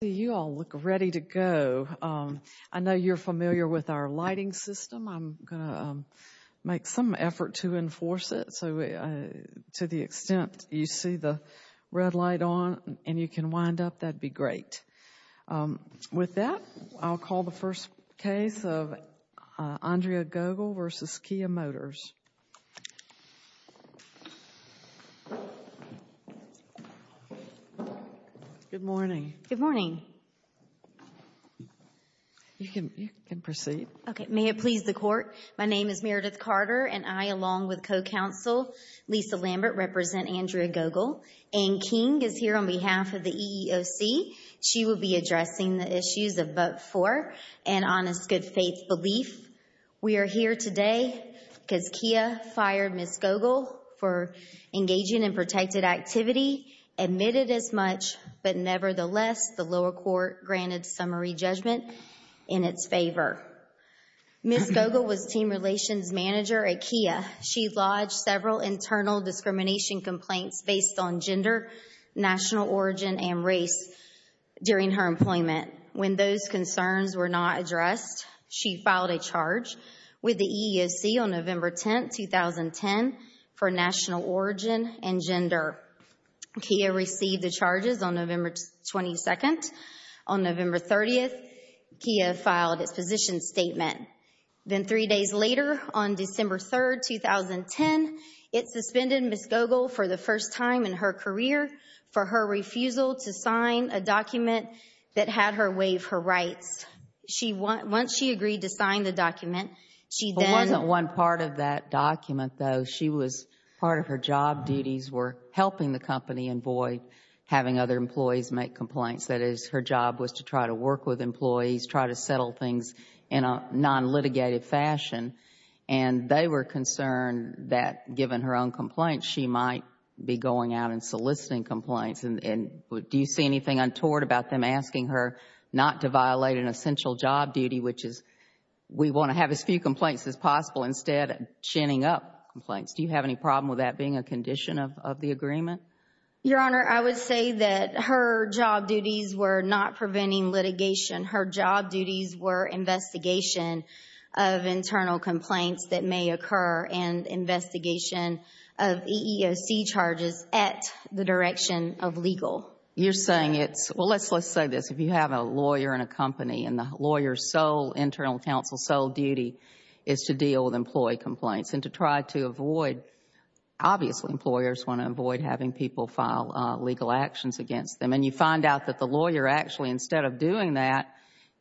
You all look ready to go. I know you're familiar with our lighting system. I'm going to make some effort to enforce it so to the extent you see the red light on and you can wind up, that'd be great. With that, I'll call the first case of Andrea Gogel v. Kia Motors. Good morning. Good morning. You can proceed. Okay. May it please the court, my name is Meredith Carter and I along with co-counsel Lisa Lambert represent Andrea Gogel and King is here on behalf of the EEOC. She will be addressing the issues of vote for and honest good faith belief. We are here today because Kia fired Ms. Gogel for engaging in protected activity, admitted as much, but nevertheless, the lower court granted summary judgment in its favor. Ms. Gogel was team relations manager at Kia. She lodged several internal discrimination complaints based on gender, national origin, and race during her employment. When those concerns were not addressed, she filed a charge with the EEOC on November 10, 2010 for national origin and gender. Kia received the charges on November 22nd. On November 30th, Kia filed its position statement. Then three days later on to sign a document that had her waive her rights. Once she agreed to sign the document, she then- It wasn't one part of that document, though. She was, part of her job duties were helping the company avoid having other employees make complaints. That is, her job was to try to work with employees, try to settle things in a non-litigated fashion, and they were concerned that given her own complaints, she might be going out and soliciting complaints. Do you see anything untoward about them asking her not to violate an essential job duty, which is, we want to have as few complaints as possible, instead of chaining up complaints? Do you have any problem with that being a condition of the agreement? Your Honor, I would say that her job duties were not preventing litigation. Her job duties were investigation of internal complaints that may occur and investigation of EEOC charges at the direction of legal. You're saying it's, well, let's say this. If you have a lawyer in a company and the lawyer's sole, internal counsel's sole duty is to deal with employee complaints and to try to avoid, obviously employers want to avoid having people file legal actions against them, and you find out that the lawyer actually, instead of doing that,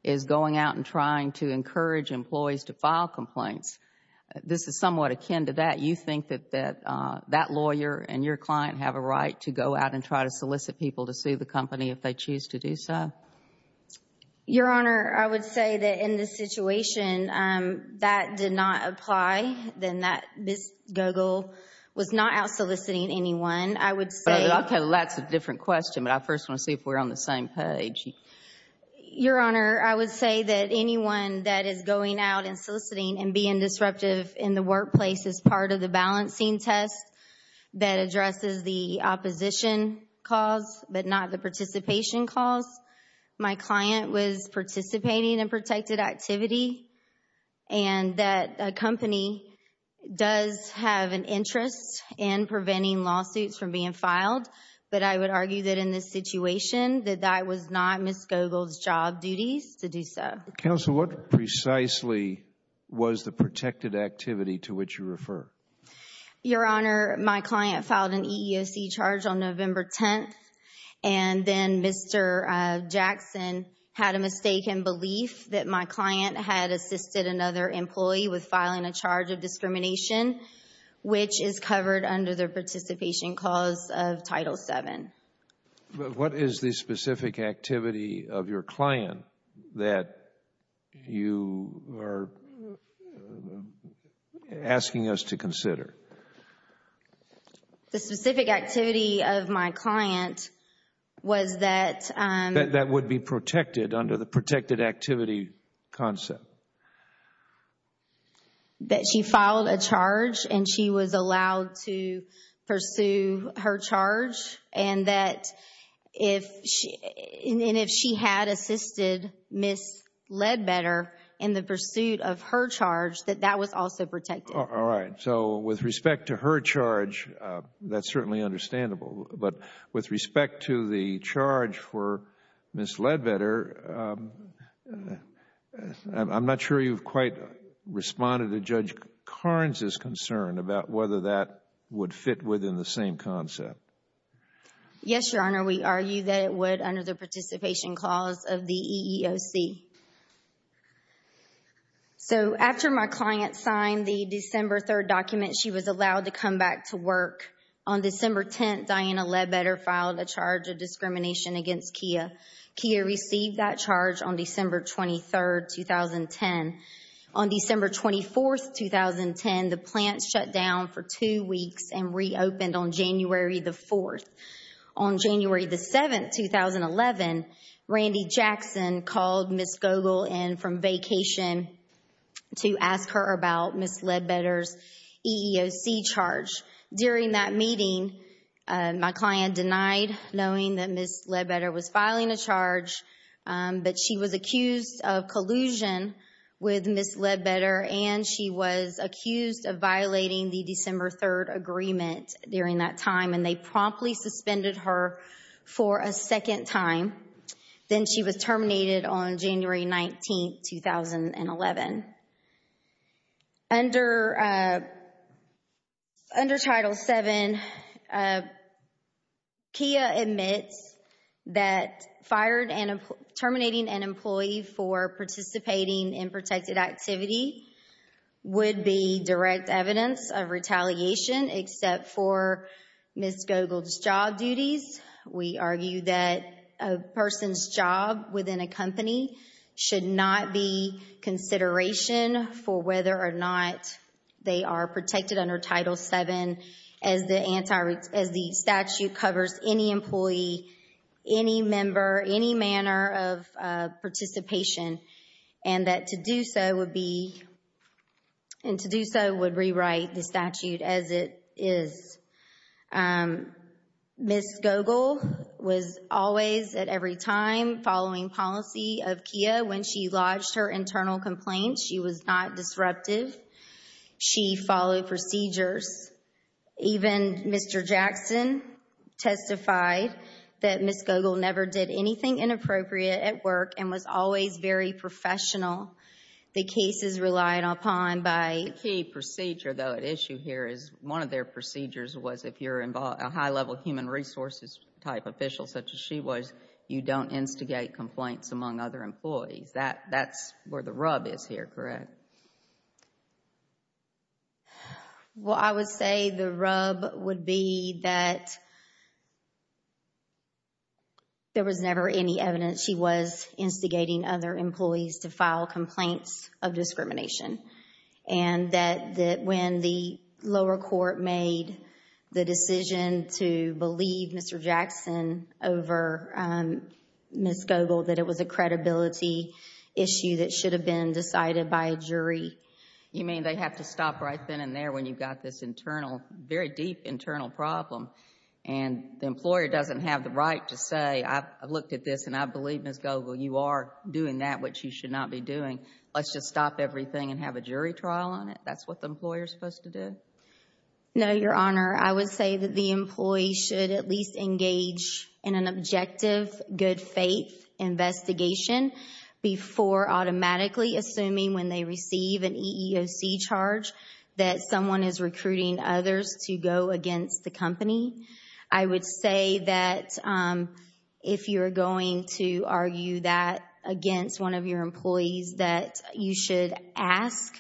is going out and trying to encourage employees to file complaints, this is somewhat akin to that. You think that that lawyer and your client have a right to go out and try to solicit people to sue the company if they choose to do so? Your Honor, I would say that in this situation, that did not apply, then that Ms. Gogol was not out soliciting anyone. I would say... Okay, that's a different question, but I first want to see if we're on the same page. Your Honor, I would say that anyone that is going out and soliciting and being disruptive in the workplace is part of the balancing test that addresses the opposition cause, but not the participation cause. My client was participating in protected activity, and that a company does have an interest in preventing lawsuits from being filed, but I would argue that in this situation, that that was not Ms. Gogol's job duties to do so. Counsel, what precisely was the protected activity to which you refer? Your Honor, my client filed an EEOC charge on November 10th, and then Mr. Jackson had a mistaken belief that my client had assisted another employee with filing a charge of discrimination, which is covered under the participation cause of Title VII. What is the specific activity of your client that you are asking us to consider? The specific activity of my client was that... That would be protected under the protected activity concept? That she filed a charge, and she was allowed to pursue her charge, and that if she had assisted Ms. Ledbetter in the pursuit of her charge, that that was also protected. All right. So with respect to her charge, that's certainly understandable, but with respect to the charge for Ms. Ledbetter, I'm not sure you've quite responded to Judge Carnes' concern about whether that would fit within the same concept. Yes, Your Honor. We argue that it would under the participation clause of the EEOC. So after my client signed the December 3rd document, she was allowed to come back to work. On December 10th, Diana Ledbetter filed a charge of discrimination against Kia. Kia received that charge on December 23rd, 2010. On December 24th, 2010, the plant shut down for two weeks and reopened on January the 4th. On January the 7th, 2011, Randy Jackson called Ms. Gogel in from vacation to ask her about Ms. Ledbetter's EEOC charge. During that meeting, my client denied knowing that Ms. Ledbetter was filing a charge, but she was accused of collusion with Ms. Ledbetter, and she was accused of violating the December 3rd agreement during that time, and they promptly suspended her for a second time. Then she was terminated on January 19th, 2011. Under Title VII, Kia admits that terminating an employee for participating in protected activity would be direct evidence of retaliation except for Ms. Gogel's job duties. We argue that a person's job within a company should not be consideration for whether or not they are protected under Title VII as the statute covers any employee, any member, any manner of participation, and that to do so would be, and to do so would rewrite the statute as it is. Um, Ms. Gogel was always at every time following policy of Kia. When she lodged her internal complaints, she was not disruptive. She followed procedures. Even Mr. Jackson testified that Ms. Gogel never did anything inappropriate at work and was always very professional. The cases relied upon by— one of their procedures was if you're a high-level human resources type official such as she was, you don't instigate complaints among other employees. That's where the rub is here, correct? Well, I would say the rub would be that there was never any evidence she was instigating other employees to file complaints of discrimination and that when the lower court made the decision to believe Mr. Jackson over Ms. Gogel, that it was a credibility issue that should have been decided by a jury. You mean they have to stop right then and there when you've got this internal, very deep internal problem and the employer doesn't have the right to say, I've looked at this and I believe Ms. Gogel, you are doing that which you should not be doing. Let's just stop everything and have a jury trial on it. That's what the employer is supposed to do? No, Your Honor. I would say that the employee should at least engage in an objective, good faith investigation before automatically assuming when they receive an EEOC charge that someone is recruiting others to go against the company. I would say that if you're going to argue that against one of your employees that you should ask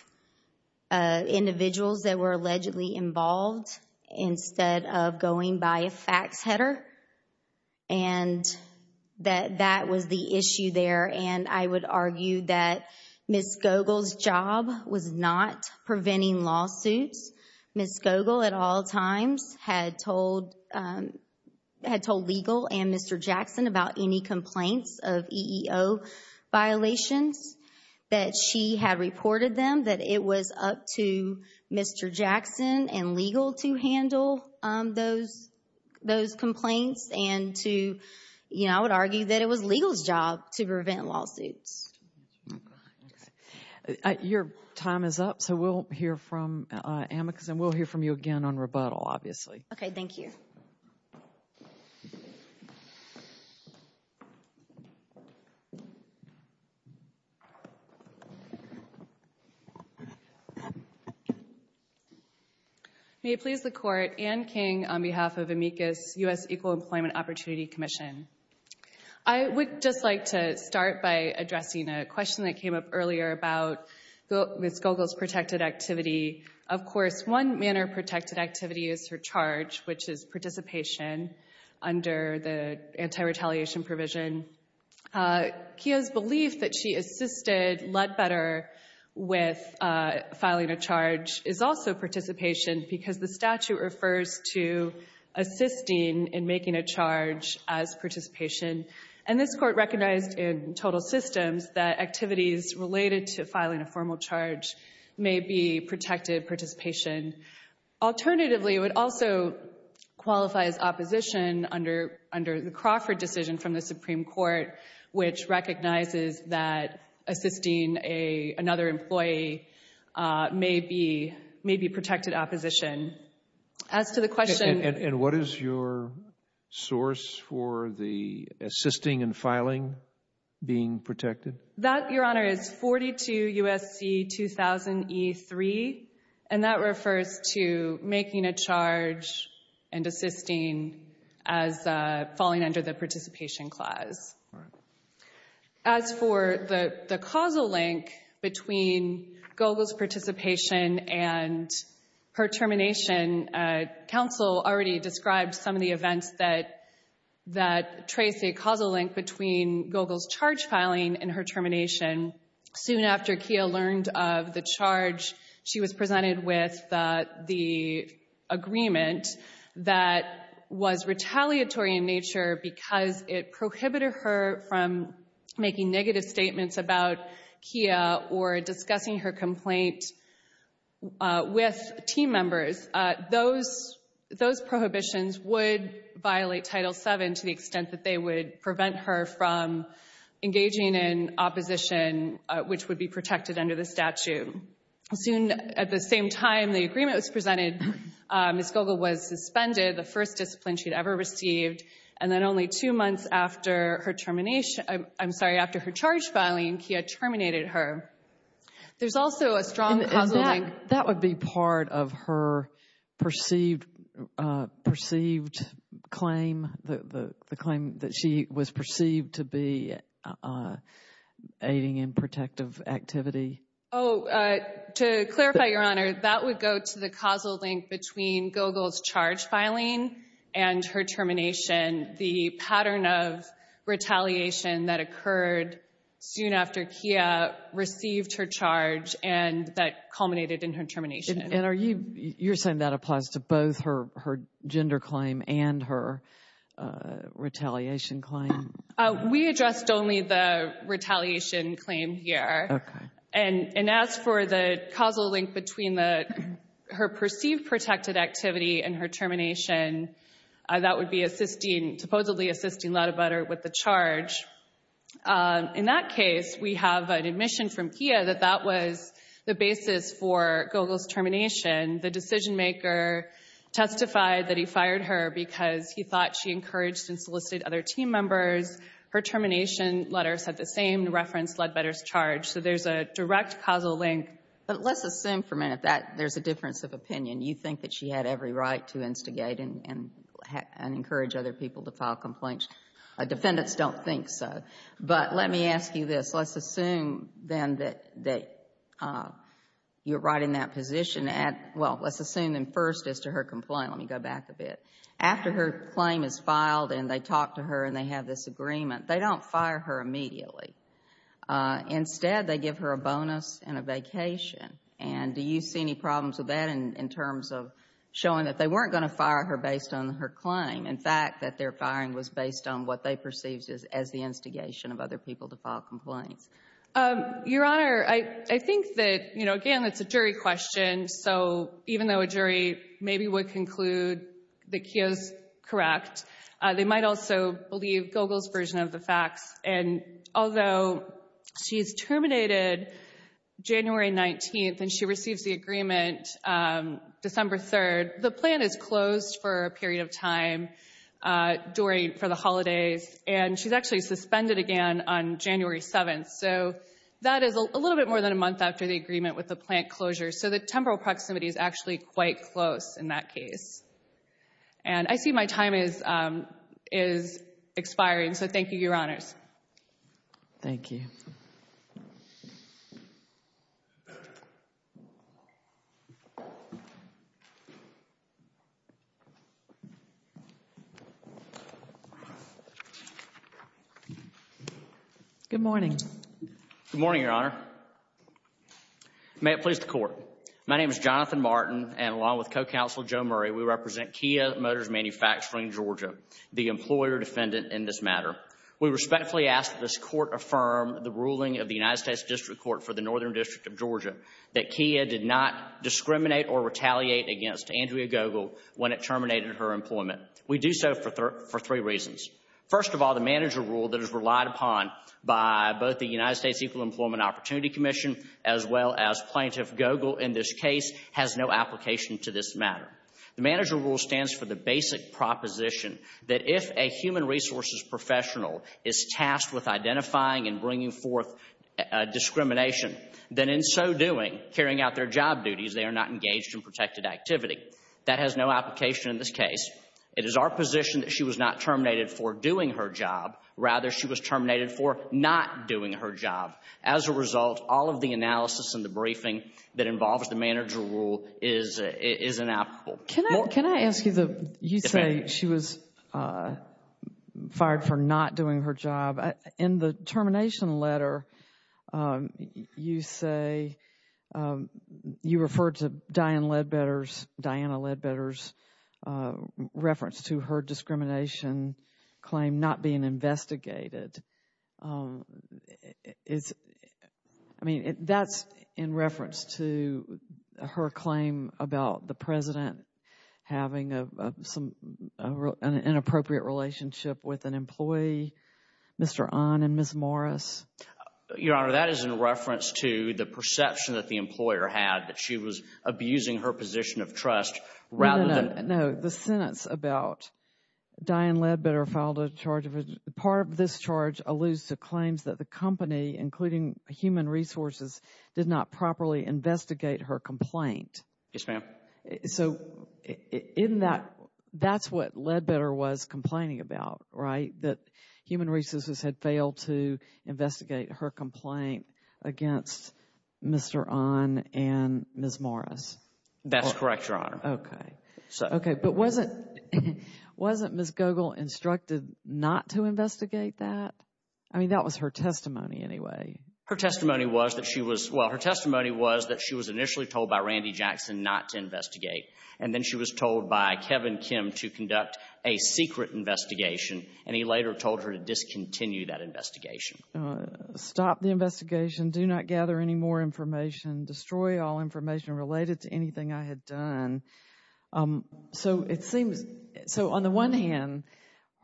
individuals that were allegedly involved instead of going by a fax header and that that was the issue there and I would argue that Ms. Gogel's job was not preventing lawsuits. Ms. Gogel at all times had told legal and Mr. Jackson about any complaints of EEO violations that she had reported them, that it was up to Mr. Jackson and legal to handle those complaints and to, you know, I would argue that it was legal's job to prevent lawsuits. Your time is up, so we'll hear from Amicus and we'll hear from you again on rebuttal, obviously. Okay, thank you. May it please the Court, Anne King on behalf of Amicus U.S. Equal Employment Opportunity Commission. I would just like to start by addressing a question that came up earlier about Ms. Gogel's protected activity. Of course, one manner of protected activity is her charge, which is participation under the anti-retaliation provision. Kia's belief that she assisted Ledbetter with filing a charge is also participation because the statute refers to assisting in making a charge as participation and this Court recognized in total systems that activities related to filing a formal charge may be protected participation. Alternatively, it would also qualify as opposition under the Crawford decision from the Supreme Court, which recognizes that assisting another employee may be protected opposition. As to the question— And what is your source for the assisting and filing being protected? That, Your Honor, is 42 U.S.C. 2000e3 and that refers to making a charge and assisting as falling under the participation clause. As for the causal link between Gogel's participation and her termination, counsel already described some of the events that trace a causal link between Gogel's charge filing and her termination. Soon after Kia learned of the charge, she was presented with the agreement that was retaliatory in nature because it prohibited her from making negative statements about Kia or discussing her complaint with team members. Those prohibitions would violate Title VII to the extent that they would prevent her from engaging in opposition, which would be protected under the statute. Soon at the same time the agreement was presented, Ms. Gogel was suspended, the first discipline she'd ever received, and then only two months after her termination— I'm sorry, after her charge filing, Kia terminated her. There's also a strong causal link— That would be part of her perceived claim, the claim that she was perceived to be aiding in protective activity. Oh, to clarify, Your Honor, that would go to the causal link between Gogel's charge filing and her termination. The pattern of retaliation that occurred soon after Kia received her charge and that culminated in her termination. And you're saying that applies to both her gender claim and her retaliation claim? We addressed only the retaliation claim here. Okay. And as for the causal link between her perceived protected activity and her termination, that would be assisting—supposedly assisting Ladobetter with the charge. In that case, we have an admission from Kia that that was the basis for Gogel's termination. The decision-maker testified that he fired her because he thought she encouraged and solicited other team members. Her termination letters had the same reference, Ladobetter's charge. So there's a direct causal link. But let's assume for a minute that there's a difference of opinion. You think that she had every right to instigate and encourage other people to file complaints. Defendants don't think so. But let me ask you this. Let's assume then that you're right in that position. Well, let's assume then first as to her complaint. Let me go back a bit. After her claim is filed and they talk to her and they have this agreement, they don't fire her immediately. Instead, they give her a bonus and a vacation. And do you see any problems with that in terms of showing that they weren't going to fire her based on her claim? In fact, that their firing was based on what they perceived as the instigation of other people to file complaints? Your Honor, I think that, you know, again, it's a jury question. So even though a jury maybe would conclude that Kia's correct, they might also believe Gogel's version of the facts. And although she's terminated January 19th and she receives the agreement December 3rd, the plan is closed for a period of time during for the holidays. And she's actually suspended again on January 7th. So that is a little bit more than a month after the agreement with the plant closure. So the temporal proximity is actually quite close in that case. And I see my time is expiring. So thank you, Your Honors. Thank you. Good morning. Good morning, Your Honor. May it please the Court. My name is Jonathan Martin and along with Co-Counsel Joe Murray, we represent Kia Motors Manufacturing Georgia, the employer defendant in this matter. We respectfully ask that this Court affirm the ruling of the United States District Court for the Northern District of Georgia that Kia did not discriminate or retaliate against Andrea Gogel when it terminated her employment. We do so for three reasons. First of all, the manager rule that is relied upon by both the United States Equal Employment Opportunity Commission as well as Plaintiff Gogel in this case has no application to this matter. The manager rule stands for the basic proposition that if a human resources professional is tasked with identifying and bringing forth discrimination, then in so doing, carrying out their job duties, they are not engaged in protected activity. That has no application in this case. It is our position that she was not terminated for doing her job. Rather, she was terminated for not doing her job. As a result, all of the analysis and the briefing that involves the manager rule is inapplicable. Can I ask you, you say she was fired for not doing her job. In the termination letter, you say you referred to Diane Ledbetter's, Diana Ledbetter's reference to her discrimination claim not being investigated. I mean, that's in reference to her claim about the president having an inappropriate relationship with an employee. Mr. Ahn and Ms. Morris. Your Honor, that is in reference to the perception that the employer had that she was abusing her position of trust rather than. No, the sentence about Diane Ledbetter filed a charge of, part of this charge alludes to claims that the company, including human resources, did not properly investigate her complaint. Yes, ma'am. So, in that, that's what Ledbetter was complaining about, right? That human resources had failed to investigate her complaint against Mr. Ahn and Ms. Morris. That's correct, Your Honor. Okay. Okay, but wasn't, wasn't Ms. Gogol instructed not to investigate that? I mean, that was her testimony anyway. Her testimony was that she was, well, her testimony was that she was initially told by Randy Jackson not to investigate. And then she was told by Kevin Kim to conduct a secret investigation. And he later told her to discontinue that investigation. Stop the investigation. Do not gather any more information. Destroy all information related to anything I had done. So, it seems, so on the one hand,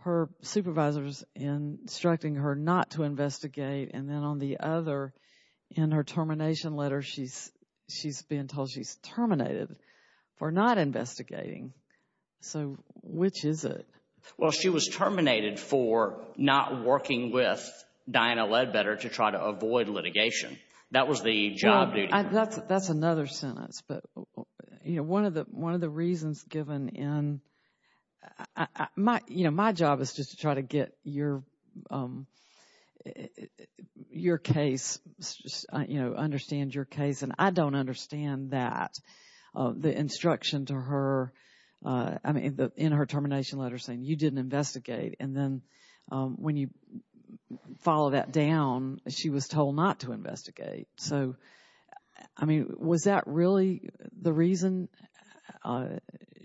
her supervisor's instructing her not to investigate. And then on the other, in her termination letter, she's, she's being told she's terminated for not investigating. So, which is it? Well, she was terminated for not working with Diana Ledbetter to try to avoid litigation. That was the job duty. That's another sentence. But, you know, one of the, one of the reasons given in, my, you know, my job is just to try to get your, your case, you know, understand your case. And I don't understand that. The instruction to her, I mean, in her termination letter saying you didn't investigate. And then when you follow that down, she was told not to investigate. So, I mean, was that really the reason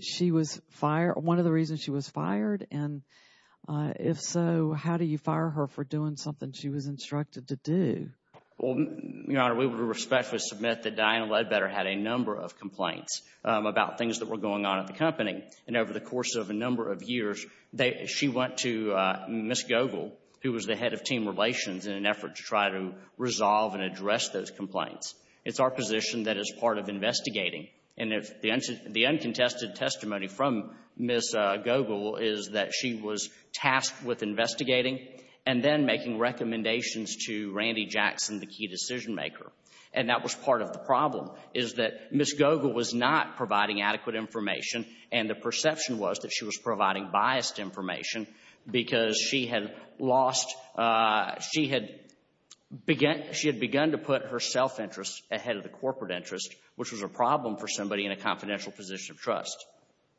she was fired? One of the reasons she was fired? And if so, how do you fire her for doing something she was instructed to do? Well, Your Honor, we would respectfully submit that Diana Ledbetter had a number of complaints about things that were going on at the company. And over the course of a number of years, she went to Ms. Gogol, who was the head of team relations, in an effort to try to resolve and address those complaints. It's our position that is part of investigating. And the uncontested testimony from Ms. Gogol is that she was tasked with investigating and then making recommendations to Randy Jackson, the key decision maker. And that was part of the problem, is that Ms. Gogol was not providing adequate information. And the perception was that she was providing biased information because she had lost, she had begun to put her self-interest ahead of the corporate interest, which was a problem for somebody in a confidential position of trust.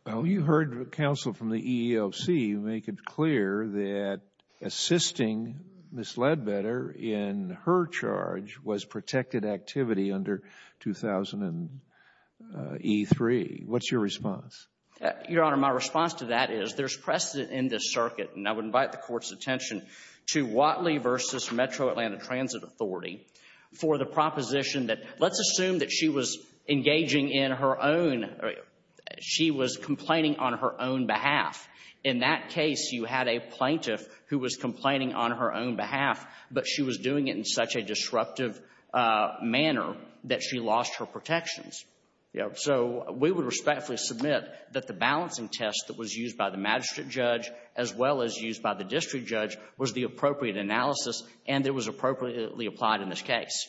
Well, you heard counsel from the EEOC make it clear that assisting Ms. Ledbetter in her charge was protected activity under 2000 E3. What's your response? Your Honor, my response to that is there's precedent in this circuit, and I would invite the Court's attention to Whatley v. Metro Atlanta Transit Authority for the proposition that let's assume that she was engaging in her own, she was complaining on her own behalf. In that case, you had a plaintiff who was complaining on her own behalf, but she was doing it in such a disruptive manner that she lost her protections. So we would respectfully submit that the balancing test that was used by the magistrate judge, as well as used by the district judge, was the appropriate analysis and it was appropriately applied in this case.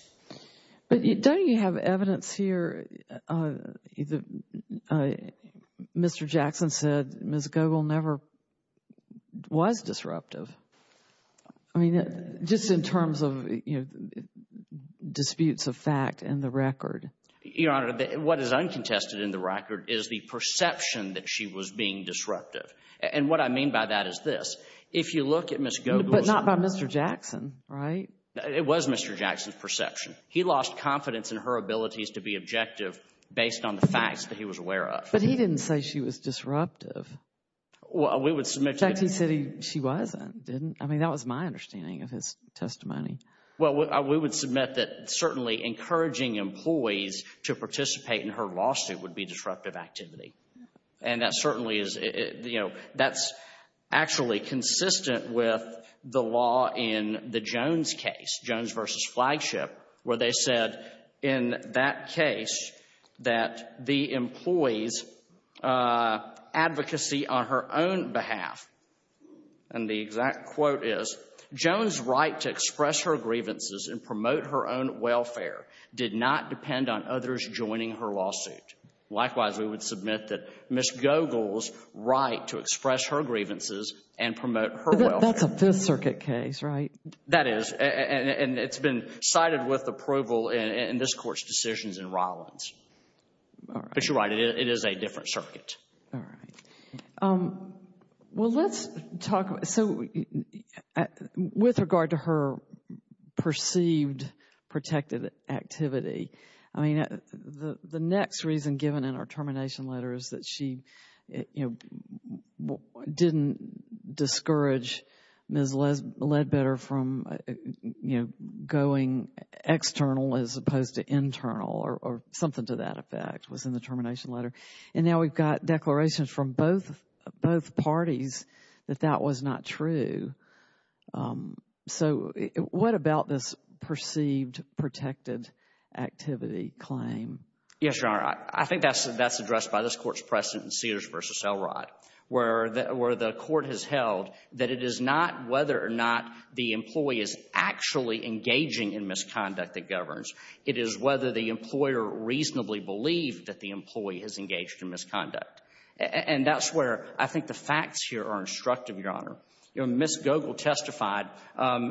But don't you have evidence here, Mr. Jackson said Ms. Gogol never was disruptive. I mean, just in terms of, you know, disputes of fact and the record. Your Honor, what is uncontested in the record is the perception that she was being disruptive. And what I mean by that is this, if you look at Ms. Gogol's... But not by Mr. Jackson, right? It was Mr. Jackson's perception. He lost confidence in her abilities to be objective based on the facts that he was aware of. But he didn't say she was disruptive. We would submit... She wasn't, didn't... I mean, that was my understanding of his testimony. Well, we would submit that certainly encouraging employees to participate in her lawsuit would be disruptive activity. And that certainly is, you know, that's actually consistent with the law in the Jones case, Jones v. Flagship, where they said in that case that the employee's advocacy on her own behalf and the exact quote is, Jones' right to express her grievances and promote her own welfare did not depend on others joining her lawsuit. Likewise, we would submit that Ms. Gogol's right to express her grievances and promote her welfare. That's a Fifth Circuit case, right? That is, and it's been cited with approval in this Court's decisions in Rollins. All right. Um, well, let's talk... So, with regard to her perceived protected activity, I mean, the next reason given in our termination letter is that she, you know, didn't discourage Ms. Ledbetter from, you know, going external as opposed to internal or something to that effect was in the termination letter. And now we've got declarations from both parties that that was not true. So, what about this perceived protected activity claim? Yes, Your Honor. I think that's addressed by this Court's precedent in Cedars v. Elrod, where the Court has held that it is not whether or not the employee is actually engaging in misconduct that governs. It is whether the employer reasonably believed that the employee has engaged in misconduct. And that's where I think the facts here are instructive, Your Honor. You know, Ms. Gogol testified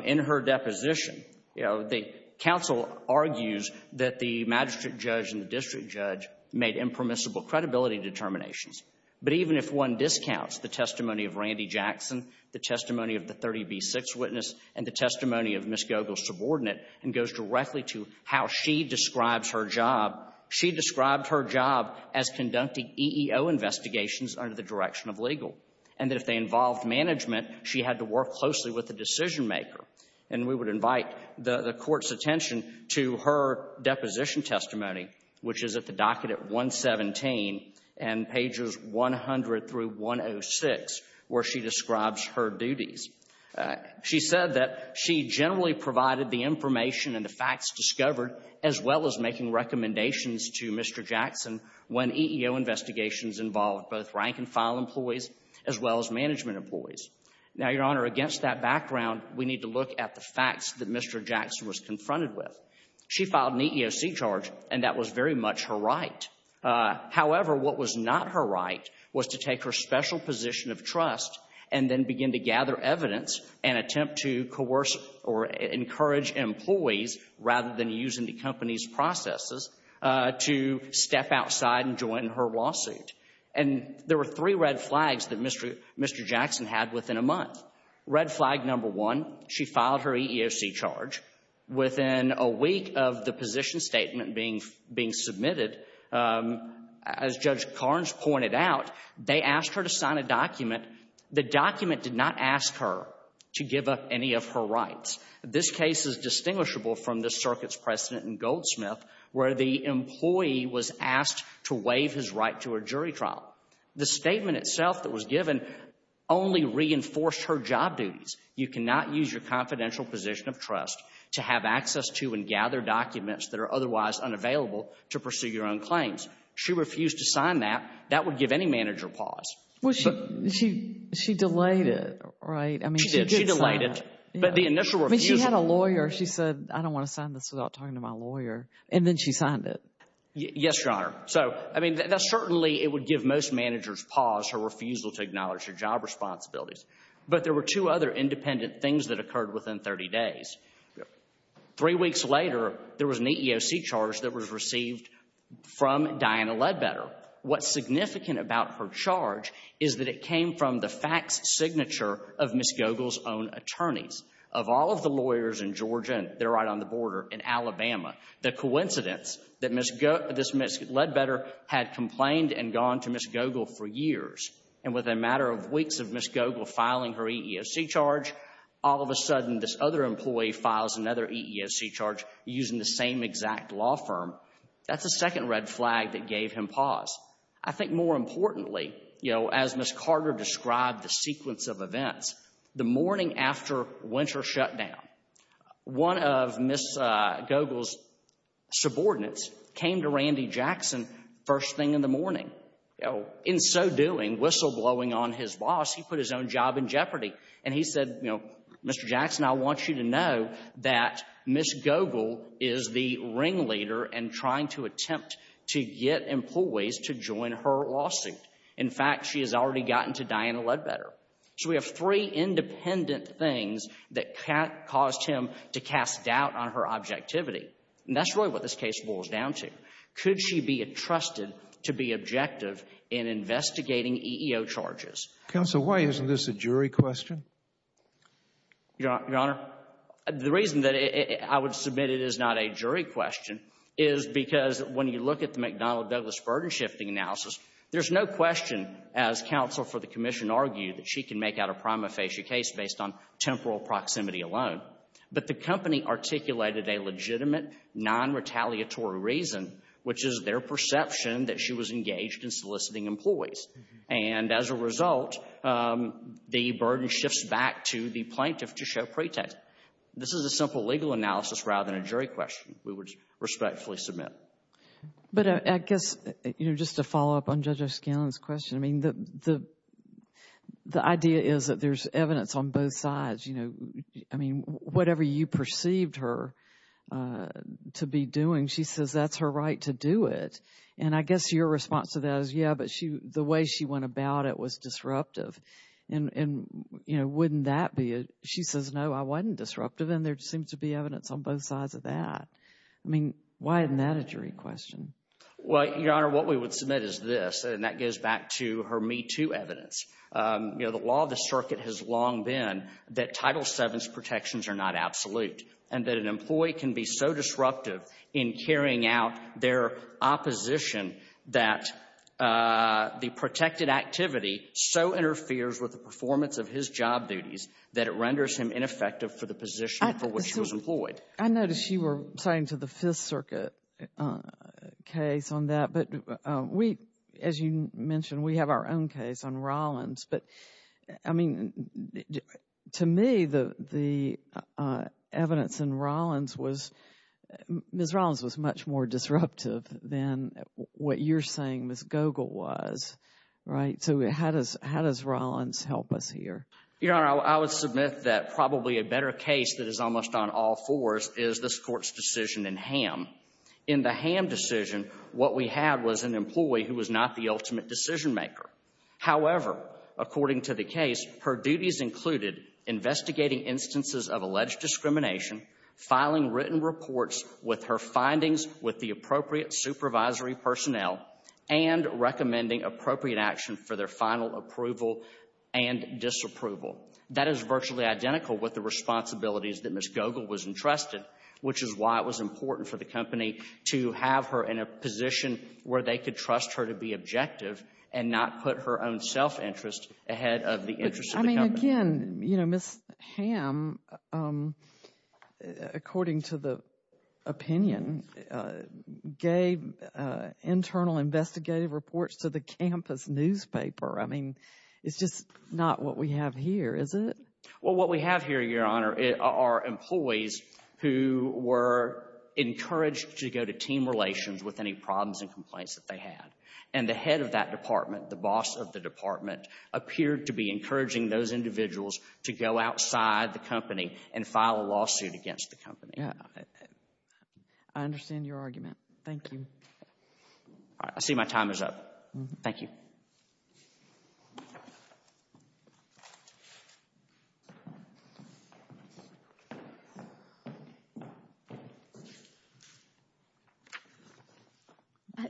in her deposition. You know, the counsel argues that the magistrate judge and the district judge made impermissible credibility determinations. But even if one discounts the testimony of Randy Jackson, the testimony of the 30B6 witness, and the testimony of Ms. Gogol's subordinate, and goes directly to how she describes her job, she described her job as conducting EEO investigations under the direction of legal. And that if they involved management, she had to work closely with the decision maker. And we would invite the Court's attention to her deposition testimony, which is at the docket at 117 and pages 100 through 106, where she describes her duties. She said that she generally provided the information and the facts discovered as well as making recommendations to Mr. Jackson when EEO investigations involved both rank-and-file employees as well as management employees. Now, Your Honor, against that background, we need to look at the facts that Mr. Jackson was confronted with. She filed an EEOC charge, and that was very much her right. However, what was not her right was to take her special position of trust and then begin to gather evidence and attempt to coerce or encourage employees, rather than using the company's processes, to step outside and join her lawsuit. And there were three red flags that Mr. Jackson had within a month. Red flag number one, she filed her EEOC charge. Within a week of the position statement being submitted, um, as Judge Carnes pointed out, they asked her to sign a document. The document did not ask her to give up any of her rights. This case is distinguishable from the circuit's precedent in Goldsmith, where the employee was asked to waive his right to a jury trial. The statement itself that was given only reinforced her job duties. You cannot use your confidential position of trust to have access to and gather documents that are otherwise unavailable to pursue your own claims. She refused to sign that. That would give any manager pause. Well, she, she, she delayed it, right? I mean, she did. She delayed it. But the initial refusal. She had a lawyer. She said, I don't want to sign this without talking to my lawyer. And then she signed it. Yes, Your Honor. So, I mean, that certainly, it would give most managers pause her refusal to acknowledge her job responsibilities. But there were two other independent things that occurred within 30 days. Three weeks later, there was an EEOC charge that was received from Diana Ledbetter. What's significant about her charge is that it came from the fax signature of Ms. Goegle's own attorneys. Of all of the lawyers in Georgia, and they're right on the border in Alabama, the coincidence that Ms. Goegle, this Ms. Ledbetter had complained and gone to Ms. Goegle for years, and within a matter of weeks of Ms. Goegle filing her EEOC charge, all of a sudden, this other employee files another EEOC charge using the same exact law firm. That's the second red flag that gave him pause. I think more importantly, you know, as Ms. Carter described the sequence of events, the morning after winter shutdown, one of Ms. Goegle's subordinates came to Randy Jackson first thing in the morning. You know, in so doing, whistleblowing on his boss, he put his own job in jeopardy. And he said, you know, Mr. Jackson, I want you to know that Ms. Goegle is the ringleader and trying to attempt to get employees to join her lawsuit. In fact, she has already gotten to Diana Ledbetter. So we have three independent things that caused him to cast doubt on her objectivity. And that's really what this case boils down to. Could she be entrusted to be objective in investigating EEO charges? Counsel, why isn't this a jury question? Your Honor, the reason that I would submit it is not a jury question is because when you look at the McDonnell-Douglas burden shifting analysis, there's no question, as counsel for the commission argued, that she can make out a prima facie case based on temporal proximity alone. But the company articulated a legitimate, non-retaliatory reason, which is their perception that she was engaged in soliciting employees. And as a result, the burden shifts back to the plaintiff to show pretext. This is a simple legal analysis rather than a jury question we would respectfully submit. But I guess, you know, just to follow up on Judge O'Scanlan's question, I mean, the idea is that there's evidence on both sides, you know. I mean, whatever you perceived her to be doing, she says that's her right to do it. And I guess your response to that is, yeah, but the way she went about it was disruptive. And, you know, wouldn't that be, she says, no, I wasn't disruptive. And there seems to be evidence on both sides of that. I mean, why isn't that a jury question? Well, Your Honor, what we would submit is this, and that goes back to her MeToo evidence. You know, the law of the circuit has long been that Title VII's protections are not absolute and that an employee can be so disruptive in carrying out their opposition that the protected activity so interferes with the performance of his job duties that it renders him ineffective for the position for which he was employed. I noticed you were saying to the Fifth Circuit case on that. But we, as you mentioned, we have our own case on Rollins. But, I mean, to me, the evidence in Rollins was, Ms. Rollins was much more disruptive than what you're saying Ms. Gogel was, right? So how does Rollins help us here? Your Honor, I would submit that probably a better case that is almost on all fours is this Court's decision in Ham. In the Ham decision, what we had was an employee who was not the ultimate decision maker. However, according to the case, her duties included investigating instances of alleged discrimination, filing written reports with her findings with the appropriate supervisory personnel, and recommending appropriate action for their final approval and disapproval. That is virtually identical with the responsibilities that Ms. Gogel was entrusted, which is why it was important for the company to have her in a position where they could trust her to be objective and not put her own self-interest ahead of the interests of the company. But, I mean, again, you know, Ms. Ham, according to the opinion, gave internal investigative reports to the campus newspaper. I mean, it's just not what we have here, is it? Well, what we have here, Your Honor, are employees who were encouraged to go to team complaints that they had. And the head of that department, the boss of the department, appeared to be encouraging those individuals to go outside the company and file a lawsuit against the company. Yeah, I understand your argument. Thank you. All right. I see my time is up. Thank you. Thank you.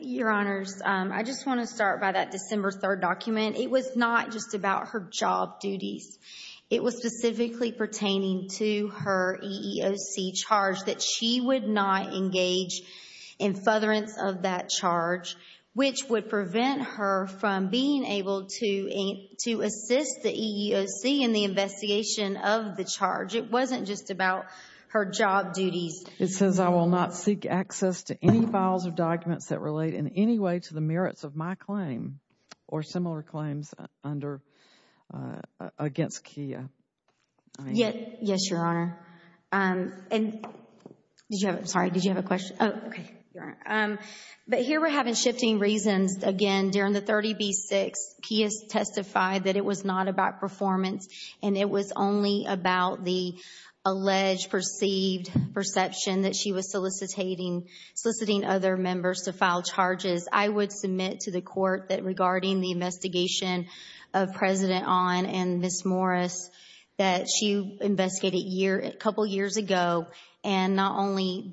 Your Honors, I just want to start by that December 3rd document. It was not just about her job duties. It was specifically pertaining to her EEOC charge that she would not engage in futherance of that charge, which would prevent her from being able to assist the EEOC in the investigation of the charge. It wasn't just about her job duties. It says, I will not seek access to any files or documents that relate in any way to the merits of my claim or similar claims against KIA. Yes, Your Honor. And did you have, sorry, did you have a question? Oh, okay. But here we're having shifting reasons. Again, during the 30B-6, KIA testified that it was not about performance and it was only about the alleged perceived perception that she was soliciting other members to file charges. I would submit to the court that regarding the investigation of President Ahn and Ms. and not only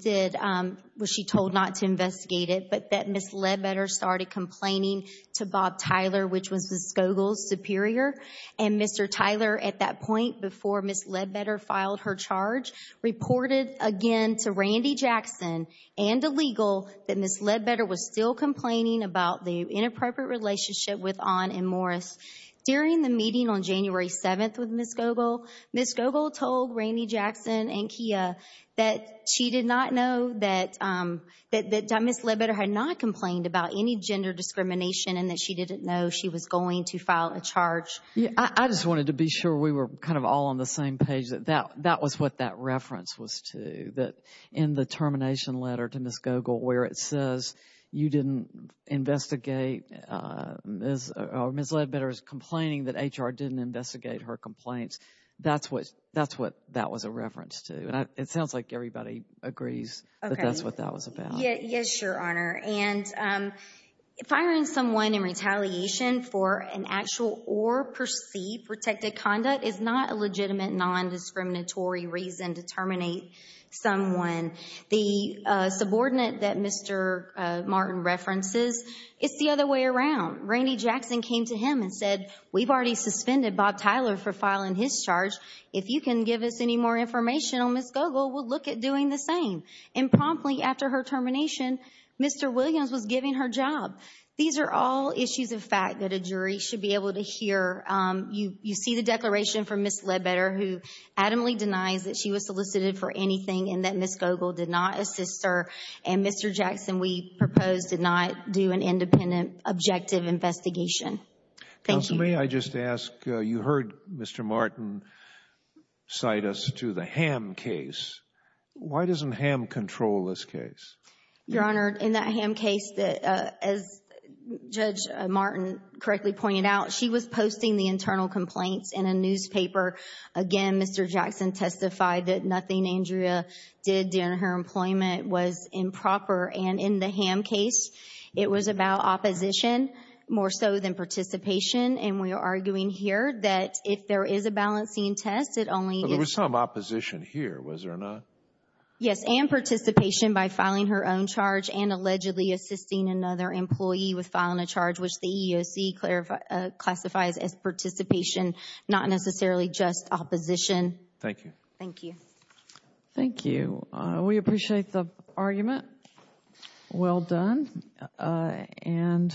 was she told not to investigate it, but that Ms. Ledbetter started complaining to Bob Tyler, which was Ms. Gogol's superior. And Mr. Tyler, at that point before Ms. Ledbetter filed her charge, reported again to Randy Jackson and illegal that Ms. Ledbetter was still complaining about the inappropriate relationship with Ahn and Morris. During the meeting on January 7th with Ms. Gogol, Ms. Gogol told Randy Jackson and KIA that she did not know that Ms. Ledbetter had not complained about any gender discrimination and that she didn't know she was going to file a charge. Yeah, I just wanted to be sure we were kind of all on the same page that that was what that reference was to, that in the termination letter to Ms. Gogol where it says you didn't investigate Ms. or Ms. Ledbetter's complaining that HR didn't investigate her complaints. That's what that's what that was a reference to. And it sounds like everybody agrees that that's what that was about. Yeah, yes, Your Honor. And firing someone in retaliation for an actual or perceived protected conduct is not a legitimate non-discriminatory reason to terminate someone. The subordinate that Mr. Martin references, it's the other way around. Randy Jackson came to him and said, we've already suspended Bob Tyler for filing his charge. If you can give us any more information on Ms. Gogol, we'll look at doing the same. And promptly after her termination, Mr. Williams was giving her job. These are all issues of fact that a jury should be able to hear. You see the declaration from Ms. Ledbetter who adamantly denies that she was solicited for anything and that Ms. Gogol did not assist her. And Mr. Jackson, we propose did not do an independent objective investigation. Counsel, may I just ask, you heard Mr. Martin cite us to the Ham case. Why doesn't Ham control this case? Your Honor, in that Ham case, as Judge Martin correctly pointed out, she was posting the internal complaints in a newspaper. Again, Mr. Jackson testified that nothing Andrea did during her employment was improper. And in the Ham case, it was about opposition more so than participation. And we are arguing here that if there is a balancing test, it only. But there was some opposition here, was there not? Yes, and participation by filing her own charge and allegedly assisting another employee with opposition. Thank you. Thank you. Thank you. We appreciate the argument. Well done. And.